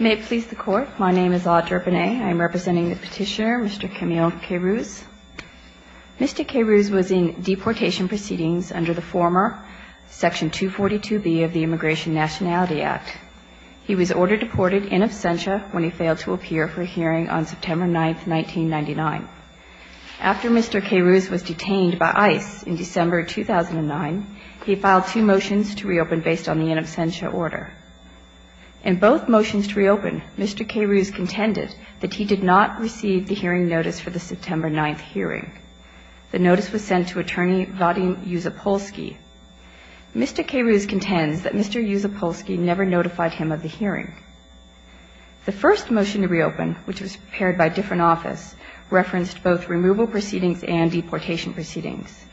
May it please the Court, my name is Audre Bonnet. I am representing the petitioner, Mr. Camille Kairouz. Mr. Kairouz was in deportation proceedings under the former Section 242B of the Immigration Nationality Act. He was ordered deported in absentia when he failed to appear for a hearing on September 9, 1999. After Mr. Kairouz was detained by ICE in December 2009, he filed two motions to reopen based on the in absentia order. In both motions to reopen, Mr. Kairouz contended that he did not receive the hearing notice for the September 9 hearing. The notice was sent to Attorney Vadim Yusupolsky. Mr. Kairouz contends that Mr. Yusupolsky never notified him of the hearing. The first motion to reopen, which was prepared by different office, referenced both removal proceedings and deportation proceedings.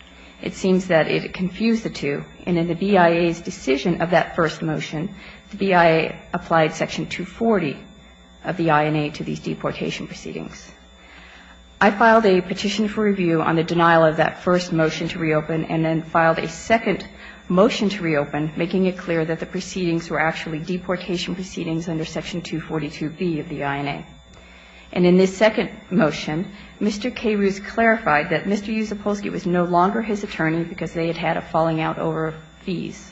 It seems that it confused the two, and in the BIA's decision of that first motion, the BIA applied Section 240 of the INA to these deportation proceedings. I filed a petition for review on the denial of that first motion to reopen and then filed a second motion to reopen, making it clear that the proceedings were actually deportation proceedings under Section 242B of the INA. And in this second motion, Mr. Kairouz clarified that Mr. Yusupolsky was no longer his attorney because they had had a falling-out over fees.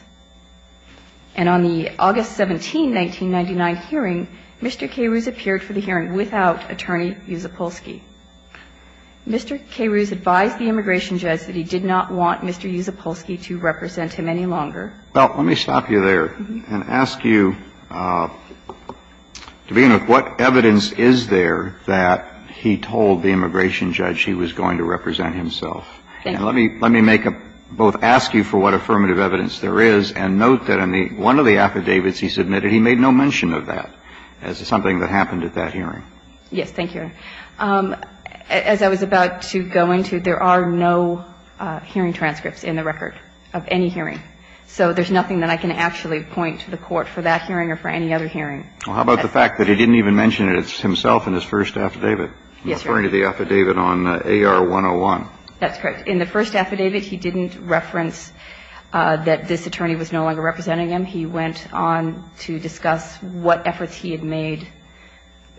And on the August 17, 1999, hearing, Mr. Kairouz appeared for the hearing without Attorney Yusupolsky. Mr. Kairouz advised the immigration judge that he did not want Mr. Yusupolsky to represent him any longer. Well, let me stop you there and ask you, to begin with, what evidence is there that he told the immigration judge he was going to represent himself? And let me make a – both ask you for what affirmative evidence there is and note that in one of the affidavits he submitted, he made no mention of that as something that happened at that hearing. Yes. Thank you. As I was about to go into, there are no hearing transcripts in the record of any hearing. So there's nothing that I can actually point to the Court for that hearing or for any other hearing. Well, how about the fact that he didn't even mention it himself in his first affidavit? Yes, Your Honor. Referring to the affidavit on AR-101. That's correct. In the first affidavit, he didn't reference that this attorney was no longer representing him. He went on to discuss what efforts he had made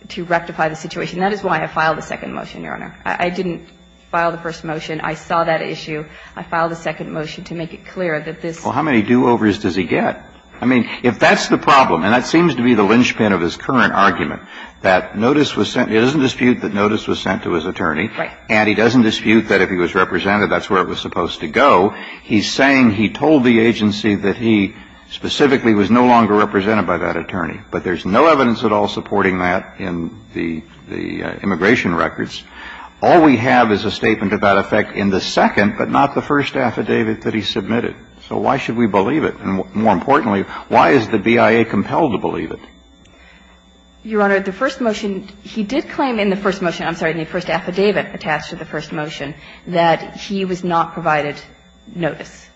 to rectify the situation. That is why I filed a second motion, Your Honor. I didn't file the first motion. I saw that issue. I filed a second motion to make it clear that this – Well, how many do-overs does he get? I mean, if that's the problem, and that seems to be the linchpin of his current argument, that notice was sent – he doesn't dispute that notice was sent to his attorney. Right. And he doesn't dispute that if he was represented, that's where it was supposed to go. He's saying he told the agency that he specifically was no longer represented by that attorney. But there's no evidence at all supporting that in the immigration records. All we have is a statement of that effect in the second, but not the first affidavit that he submitted. So why should we believe it? And more importantly, why is the BIA compelled to believe it? Your Honor, the first motion – he did claim in the first motion – I'm sorry, in the first affidavit attached to the first motion – that he was not provided notice.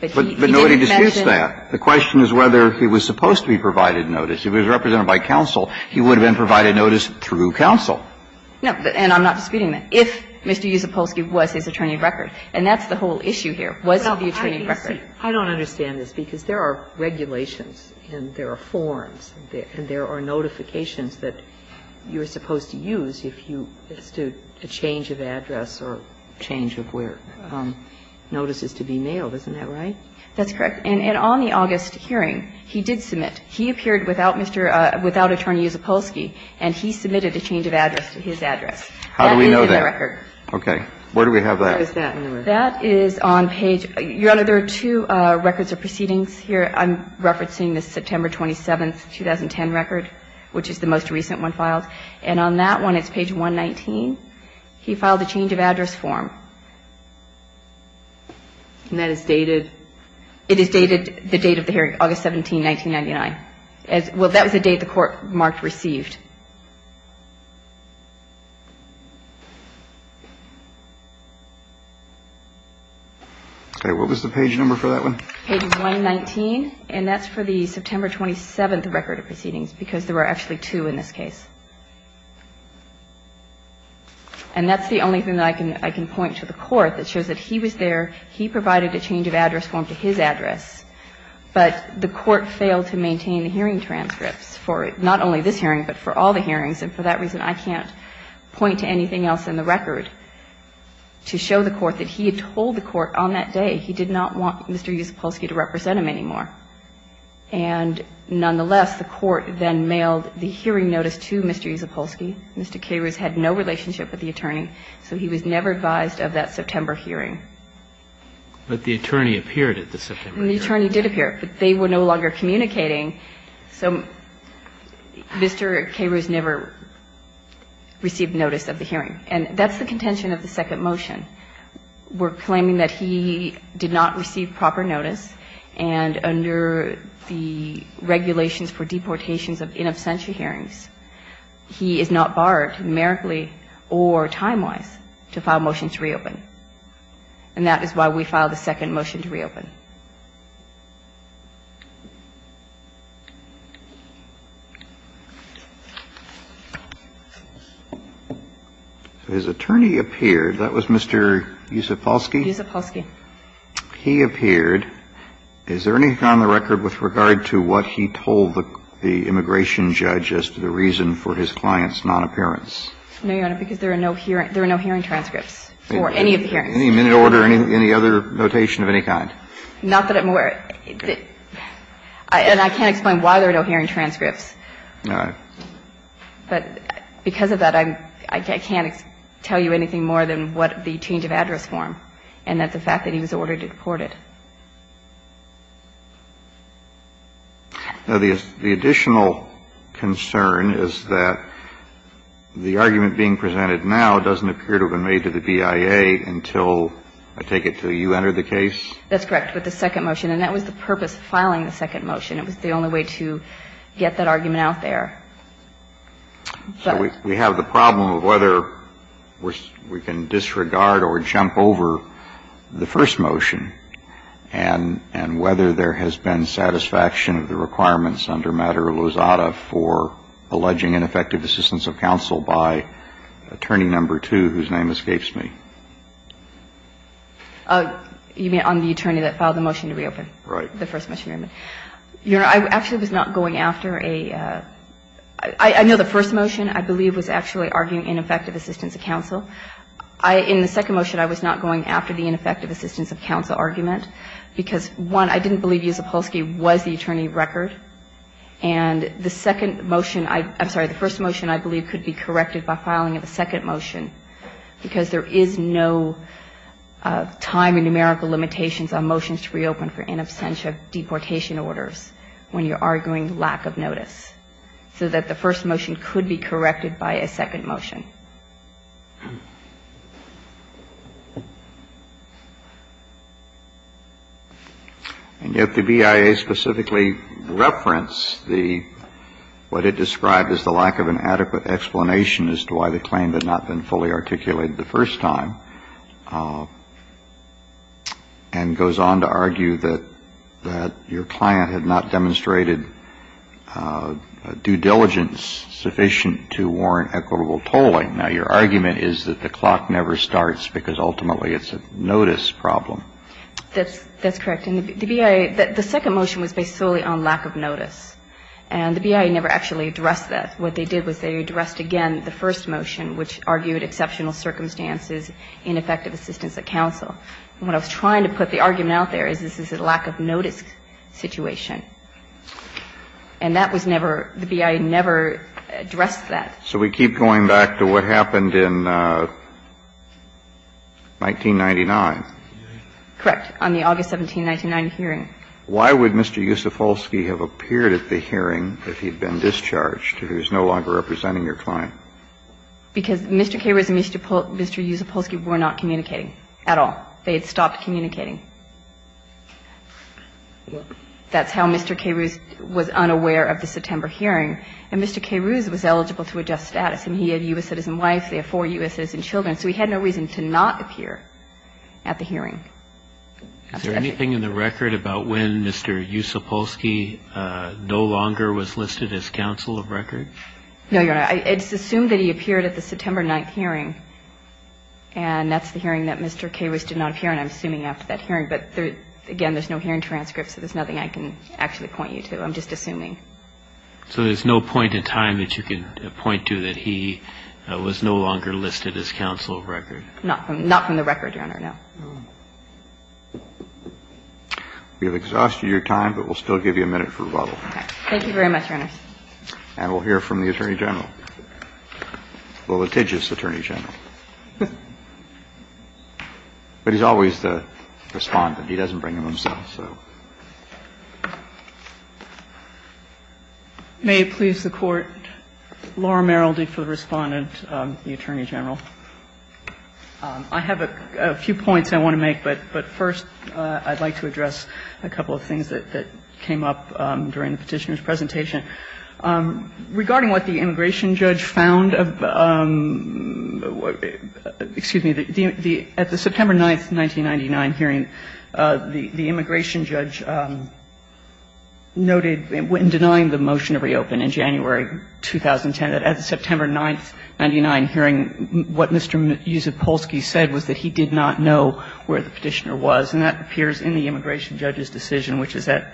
But he didn't mention – But nobody disputes that. The question is whether he was supposed to be provided notice. If he was represented by counsel, he would have been provided notice through counsel. No. And I'm not disputing that. If Mr. Usopolsky was his attorney of record, and that's the whole issue here, was he the attorney of record? Well, I don't understand this, because there are regulations and there are forms and there are notifications that you're supposed to use if you – as to a change of address or a change of where notices to be mailed. Isn't that right? That's correct. And on the August hearing, he did submit. He appeared without Mr. – without Attorney Usopolsky, and he submitted a change of address to his address. How do we know that? That is in the record. Okay. Where do we have that? Where is that in the record? That is on page – Your Honor, there are two records of proceedings here. I'm referencing the September 27th, 2010 record, which is the most recent one filed. And on that one, it's page 119. He filed a change of address form. And that is dated? It is dated – the date of the hearing, August 17, 1999. Well, that was the date the Court marked received. Okay. What was the page number for that one? Page 119. And that's for the September 27th record of proceedings, because there were actually two in this case. And that's the only thing that I can point to the Court that shows that he was there. He provided a change of address form to his address, but the Court failed to maintain the hearing transcripts for not only this hearing, but for all the hearings. And for that reason, I can't point to anything else in the record to show the Court that he had told the Court on that day he did not want Mr. Yusopolsky to represent him anymore. And nonetheless, the Court then mailed the hearing notice to Mr. Yusopolsky. Mr. Carews had no relationship with the attorney, so he was never advised of that September hearing. But the attorney appeared at the September hearing. The attorney did appear, but they were no longer communicating. So Mr. Carews never received notice of the hearing. And that's the contention of the second motion. We're claiming that he did not receive proper notice, and under the regulations for deportations of in absentia hearings, he is not barred numerically or timewise to file motions to reopen. And that is why we filed a second motion to reopen. So his attorney appeared. That was Mr. Yusopolsky? Yusopolsky. He appeared. Is there anything on the record with regard to what he told the immigration judge as to the reason for his client's nonappearance? No, Your Honor, because there are no hearing transcripts for any of the hearings. Any minute order, any other notation of any kind? Not that I'm aware of. And I can't explain why there are no hearing transcripts. All right. But because of that, I can't tell you anything more than what the change of address form, and that's the fact that he was ordered to deport it. Now, the additional concern is that the argument being presented now doesn't appear to have been made to the BIA until, I take it, until you entered the case? That's correct, with the second motion. And that was the purpose of filing the second motion. It was the only way to get that argument out there. So we have the problem of whether we can disregard or jump over the first motion. And whether there has been satisfaction of the requirements under matter of Lozada for alleging ineffective assistance of counsel by attorney number two, whose name escapes me. You mean on the attorney that filed the motion to reopen? Right. The first motion. Your Honor, I actually was not going after a — I know the first motion, I believe, was actually arguing ineffective assistance of counsel. In the second motion, I was not going after the ineffective assistance of counsel argument because, one, I didn't believe Yusupolsky was the attorney of record. And the second motion — I'm sorry. The first motion, I believe, could be corrected by filing a second motion because there is no time and numerical limitations on motions to reopen for in absentia deportation orders when you're arguing lack of notice. So that the first motion could be corrected by a second motion. And yet the BIA specifically referenced the — what it described as the lack of an adequate explanation as to why the claim had not been fully articulated the first time, and goes on to argue that your client had not demonstrated due diligence sufficient to warrant equitable tolling. Now, your argument is that the clock never starts because ultimately it's a notice problem. That's correct. And the BIA — the second motion was based solely on lack of notice. And the BIA never actually addressed that. What they did was they addressed again the first motion, which argued exceptional circumstances, ineffective assistance of counsel. What I was trying to put the argument out there is this is a lack of notice situation. And that was never — the BIA never addressed that. So we keep going back to what happened in 1999. Correct. On the August 17, 1999 hearing. Why would Mr. Yusupolsky have appeared at the hearing if he had been discharged, if he was no longer representing your client? Because Mr. Kamen and Mr. Yusupolsky were not communicating at all. They had stopped communicating. That's how Mr. Kahrouz was unaware of the September hearing. And Mr. Kahrouz was eligible to adjust status. And he had U.S. citizen wife. They have four U.S. citizen children. So he had no reason to not appear at the hearing. Is there anything in the record about when Mr. Yusupolsky no longer was listed as counsel of record? No, Your Honor. It's assumed that he appeared at the September 9th hearing. And that's the hearing that Mr. Kahrouz did not appear in. I'm assuming after that hearing. But, again, there's no hearing transcript. So there's nothing I can actually point you to. I'm just assuming. So there's no point in time that you can point to that he was no longer listed as counsel of record? Not from the record, Your Honor. No. We have exhausted your time, but we'll still give you a minute for rebuttal. Okay. Thank you very much, Your Honor. And we'll hear from the Attorney General, the litigious Attorney General. But he's always the Respondent. He doesn't bring him himself, so. May it please the Court. Laura Merrildy for the Respondent, the Attorney General. I have a few points I want to make, but first I'd like to address a couple of things that came up during the Petitioner's presentation. Regarding what the immigration judge found, excuse me, at the September 9, 1999, hearing, the immigration judge noted in denying the motion to reopen in January 2010, that at the September 9, 1999, hearing, what Mr. Usipolsky said was that he did not know where the Petitioner was. And that appears in the immigration judge's decision, which is at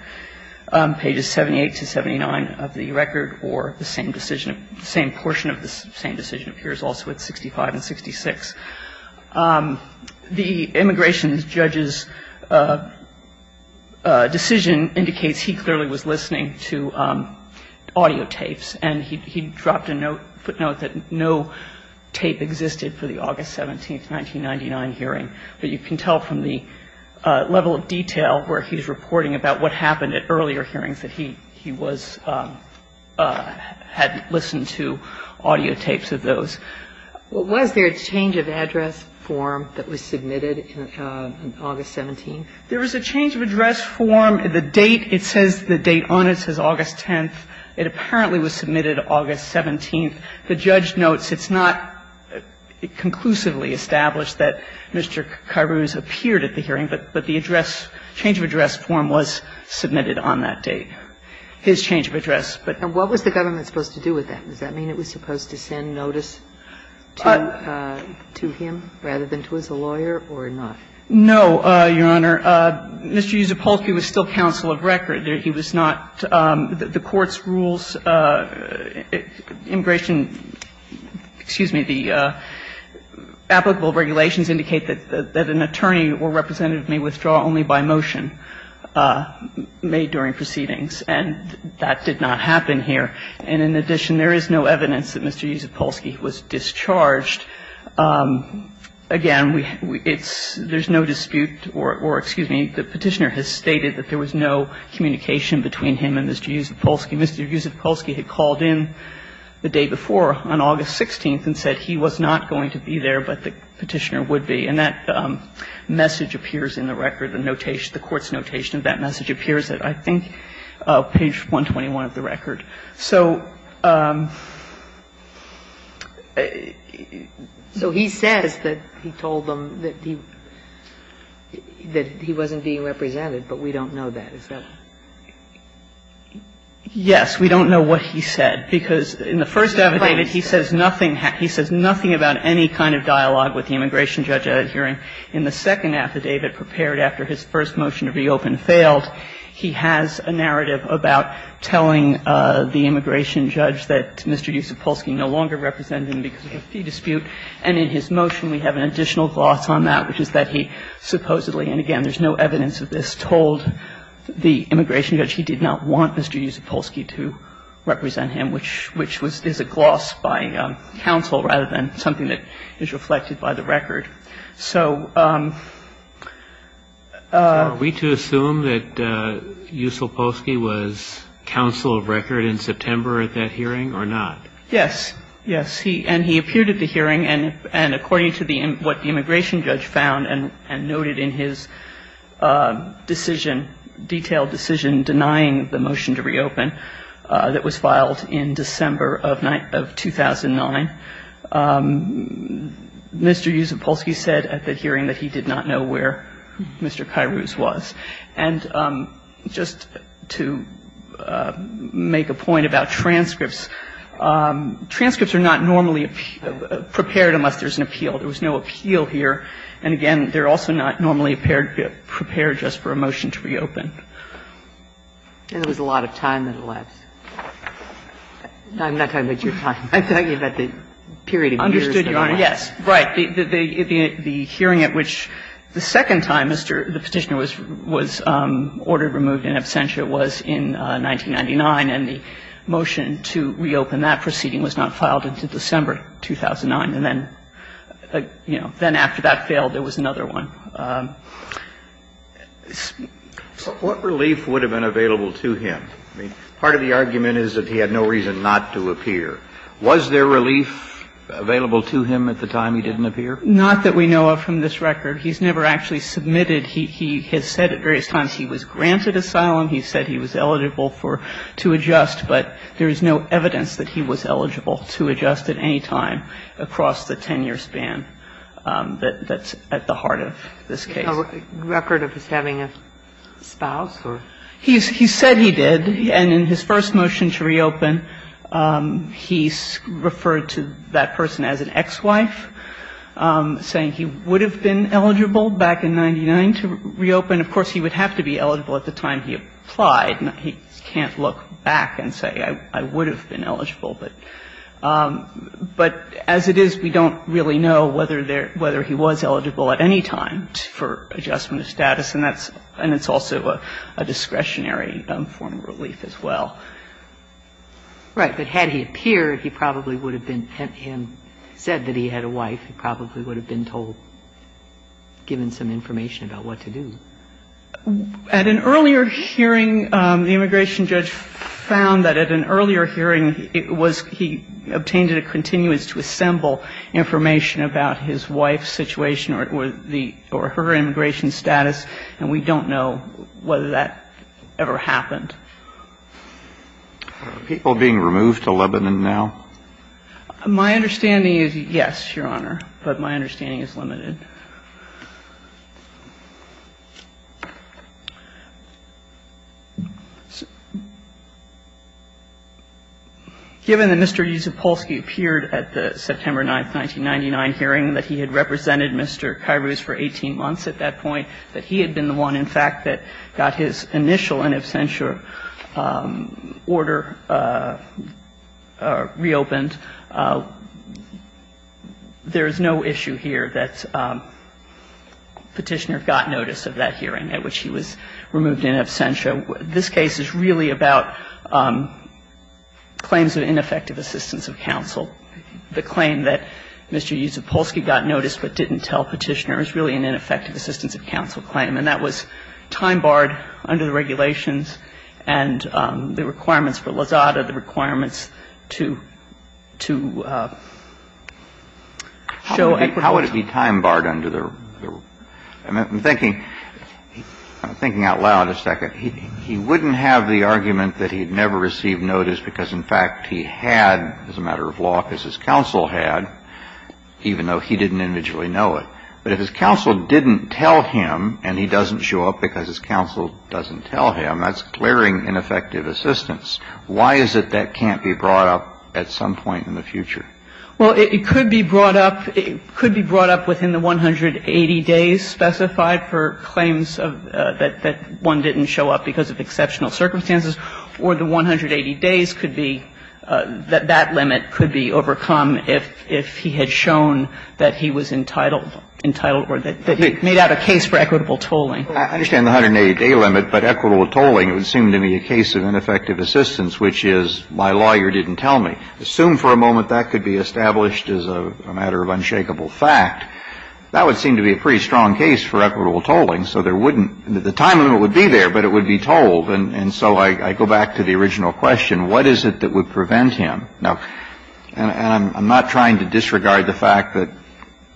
pages 78 to 79 of the record, or the same decision, the same portion of the same decision appears also at 65 and 66. The immigration judge's decision indicates he clearly was listening to audio tapes, and he dropped a note, footnote, that no tape existed for the August 17, 1999, hearing. But you can tell from the level of detail where he's reporting about what happened at earlier hearings that he was, had listened to audio tapes of those. Was there a change of address form that was submitted in August 17? There was a change of address form. The date, it says, the date on it says August 10th. It apparently was submitted August 17th. The judge notes it's not conclusively established that Mr. Kairouz appeared at the hearing, but the address, change of address form was submitted on that date, his change of address. And what was the government supposed to do with that? Does that mean it was supposed to send notice to him rather than to his lawyer or not? No, Your Honor. Mr. Usipolsky was still counsel of record. He was not the court's rules. Immigration, excuse me, the applicable regulations indicate that an attorney or representative may withdraw only by motion made during proceedings. And that did not happen here. And in addition, there is no evidence that Mr. Usipolsky was discharged. Again, it's, there's no dispute or, excuse me, the Petitioner has stated that there was no communication between him and Mr. Usipolsky. Mr. Usipolsky had called in the day before on August 16th and said he was not going to be there, but the Petitioner would be. And that message appears in the record, the notation, the court's notation of that message appears at, I think, page 121 of the record. So he says that he told them that he wasn't being represented, but we don't know that, is that it? Yes, we don't know what he said, because in the first affidavit, he says nothing about any kind of dialogue with the immigration judge at a hearing. In the second affidavit prepared after his first motion to reopen failed, he has a narrative about telling the immigration judge that Mr. Usipolsky no longer represented him because of a fee dispute. And in his motion, we have an additional gloss on that, which is that he supposedly and, again, there's no evidence of this, told the immigration judge he did not want Mr. Usipolsky to represent him, which is a gloss by counsel rather than something that is reflected by the record. So we do assume that Usipolsky was counsel of record in September at that hearing or not? Yes. Yes. And he appeared at the hearing, and according to what the immigration judge found and noted in his decision, detailed decision denying the motion to reopen that was filed in December of 2009, Mr. Usipolsky said at the hearing that he did not know where Mr. Kairouz was. And just to make a point about transcripts, transcripts are not normally prepared unless there's an appeal. There was no appeal here. And, again, they're also not normally prepared just for a motion to reopen. And there was a lot of time that elapsed. I'm not talking about your time. I'm talking about the period of years. Understood, Your Honor. Yes. Right. The hearing at which the second time Mr. the Petitioner was ordered removed in absentia was in 1999, and the motion to reopen that proceeding was not filed until December 2009. And then, you know, then after that failed, there was another one. What relief would have been available to him? I mean, part of the argument is that he had no reason not to appear. Was there relief available to him at the time he didn't appear? Not that we know of from this record. He's never actually submitted. He has said at various times he was granted asylum. He said he was eligible for to adjust. But there is no evidence that he was eligible to adjust at any time across the 10-year span that's at the heart of this case. A record of his having a spouse or? He said he did. And in his first motion to reopen, he referred to that person as an ex-wife, saying he would have been eligible back in 1999 to reopen. Of course, he would have to be eligible at the time he applied. And he can't look back and say, I would have been eligible. But as it is, we don't really know whether he was eligible at any time for adjustment of status. And that's also a discretionary form of relief as well. Right. But had he appeared, he probably would have been, had he said that he had a wife, he probably would have been told, given some information about what to do. At an earlier hearing, the immigration judge found that at an earlier hearing, he obtained a continuance to assemble information about his wife's situation or her immigration status. And we don't know whether that ever happened. Are people being removed to Lebanon now? My understanding is, yes, Your Honor. But my understanding is limited. Given that Mr. Yusupolsky appeared at the September 9, 1999 hearing, that he had represented Mr. Kairos for 18 months at that point, that he had been the one, in fact, that got his initial in absentia order reopened, there is no issue here that Petitioner got notice of that hearing at which he was removed in absentia. This case is really about claims of ineffective assistance of counsel. The claim that Mr. Yusupolsky got notice but didn't tell Petitioner is really an ineffective assistance of counsel claim. And that was time barred under the regulations and the requirements for Lozada, the requirements to show equity. Kennedy. How would it be time barred under the? I'm thinking out loud a second. He wouldn't have the argument that he had never received notice because, in fact, he had, as a matter of law, because his counsel had, even though he didn't individually know it. But if his counsel didn't tell him and he doesn't show up because his counsel doesn't tell him, that's glaring ineffective assistance. Why is it that can't be brought up at some point in the future? Well, it could be brought up. It could be brought up within the 180 days specified for claims of that one didn't show up because of exceptional circumstances. Or the 180 days could be that that limit could be overcome if he had shown that he was entitled, entitled or that he made out a case for equitable tolling. I understand the 180-day limit. But equitable tolling, it would seem to me a case of ineffective assistance, which is my lawyer didn't tell me. Assume for a moment that could be established as a matter of unshakable fact. That would seem to be a pretty strong case for equitable tolling. So there wouldn't the time limit would be there, but it would be tolled. And so I go back to the original question. What is it that would prevent him? Now, and I'm not trying to disregard the fact that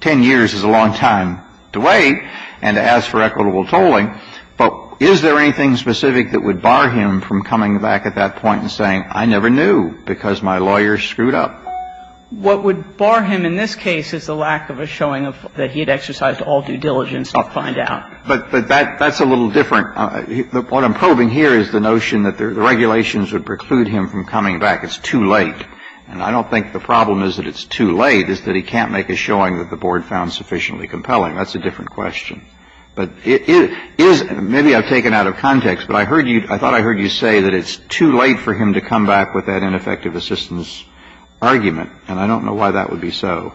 10 years is a long time to wait and to ask for equitable tolling. But is there anything specific that would bar him from coming back at that point and saying, I never knew because my lawyer screwed up? What would bar him in this case is the lack of a showing of that he had exercised all due diligence to find out. But that's a little different. What I'm probing here is the notion that the regulations would preclude him from coming back. It's too late. And I don't think the problem is that it's too late, is that he can't make a showing that the board found sufficiently compelling. That's a different question. But is, maybe I've taken out of context, but I heard you, I thought I heard you say that it's too late for him to come back with that ineffective assistance argument. And I don't know why that would be so.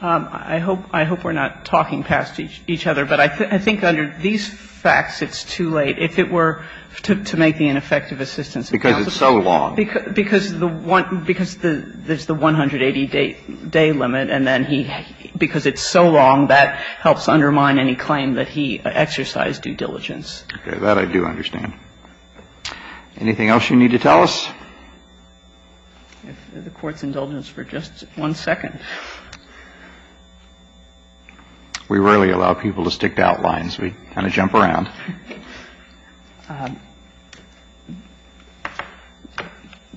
I hope, I hope we're not talking past each other. But I think under these facts, it's too late. If it were to make the ineffective assistance. Because it's so long. Because the one, because there's the 180-day limit, and then he, because it's so long, that helps undermine any claim that he exercised due diligence. Okay. That I do understand. Anything else you need to tell us? If the Court's indulgence for just one second. We rarely allow people to stick to outlines. We kind of jump around.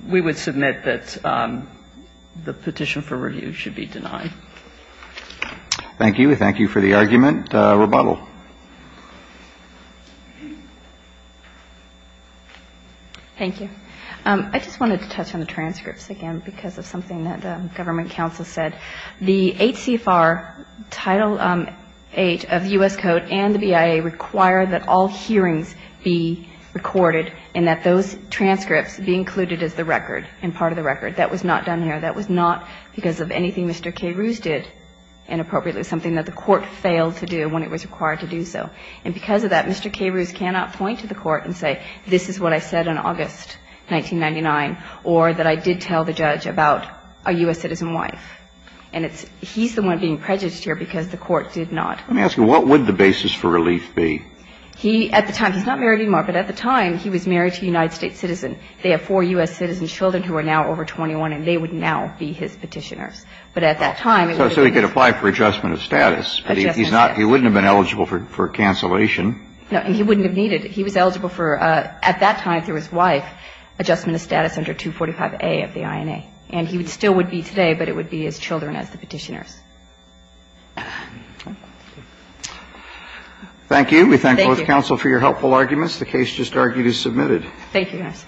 We would submit that the petition for review should be denied. Thank you. Thank you for the argument. Rebuttal. Thank you. I just wanted to touch on the transcripts again because of something that the government counsel said. The 8 CFR, Title VIII of the U.S. Code and the BIA require that all parties to the hearings be recorded and that those transcripts be included as the record and part of the record. That was not done here. That was not because of anything Mr. K. Ruse did inappropriately, something that the Court failed to do when it was required to do so. And because of that, Mr. K. Ruse cannot point to the Court and say, this is what I said in August 1999, or that I did tell the judge about a U.S. citizen wife. And it's, he's the one being prejudged here because the Court did not. Let me ask you, what would the basis for relief be? He, at the time, he's not married anymore, but at the time, he was married to a United States citizen. They have four U.S. citizen children who are now over 21, and they would now be his petitioners. But at that time, it would have been. So he could apply for adjustment of status. Adjustment of status. But he's not, he wouldn't have been eligible for cancellation. No, and he wouldn't have needed. He was eligible for, at that time through his wife, adjustment of status under 245A of the INA. And he still would be today, but it would be his children as the petitioners. Thank you. We thank both counsel for your helpful arguments. The case just argued is submitted. Thank you, guys.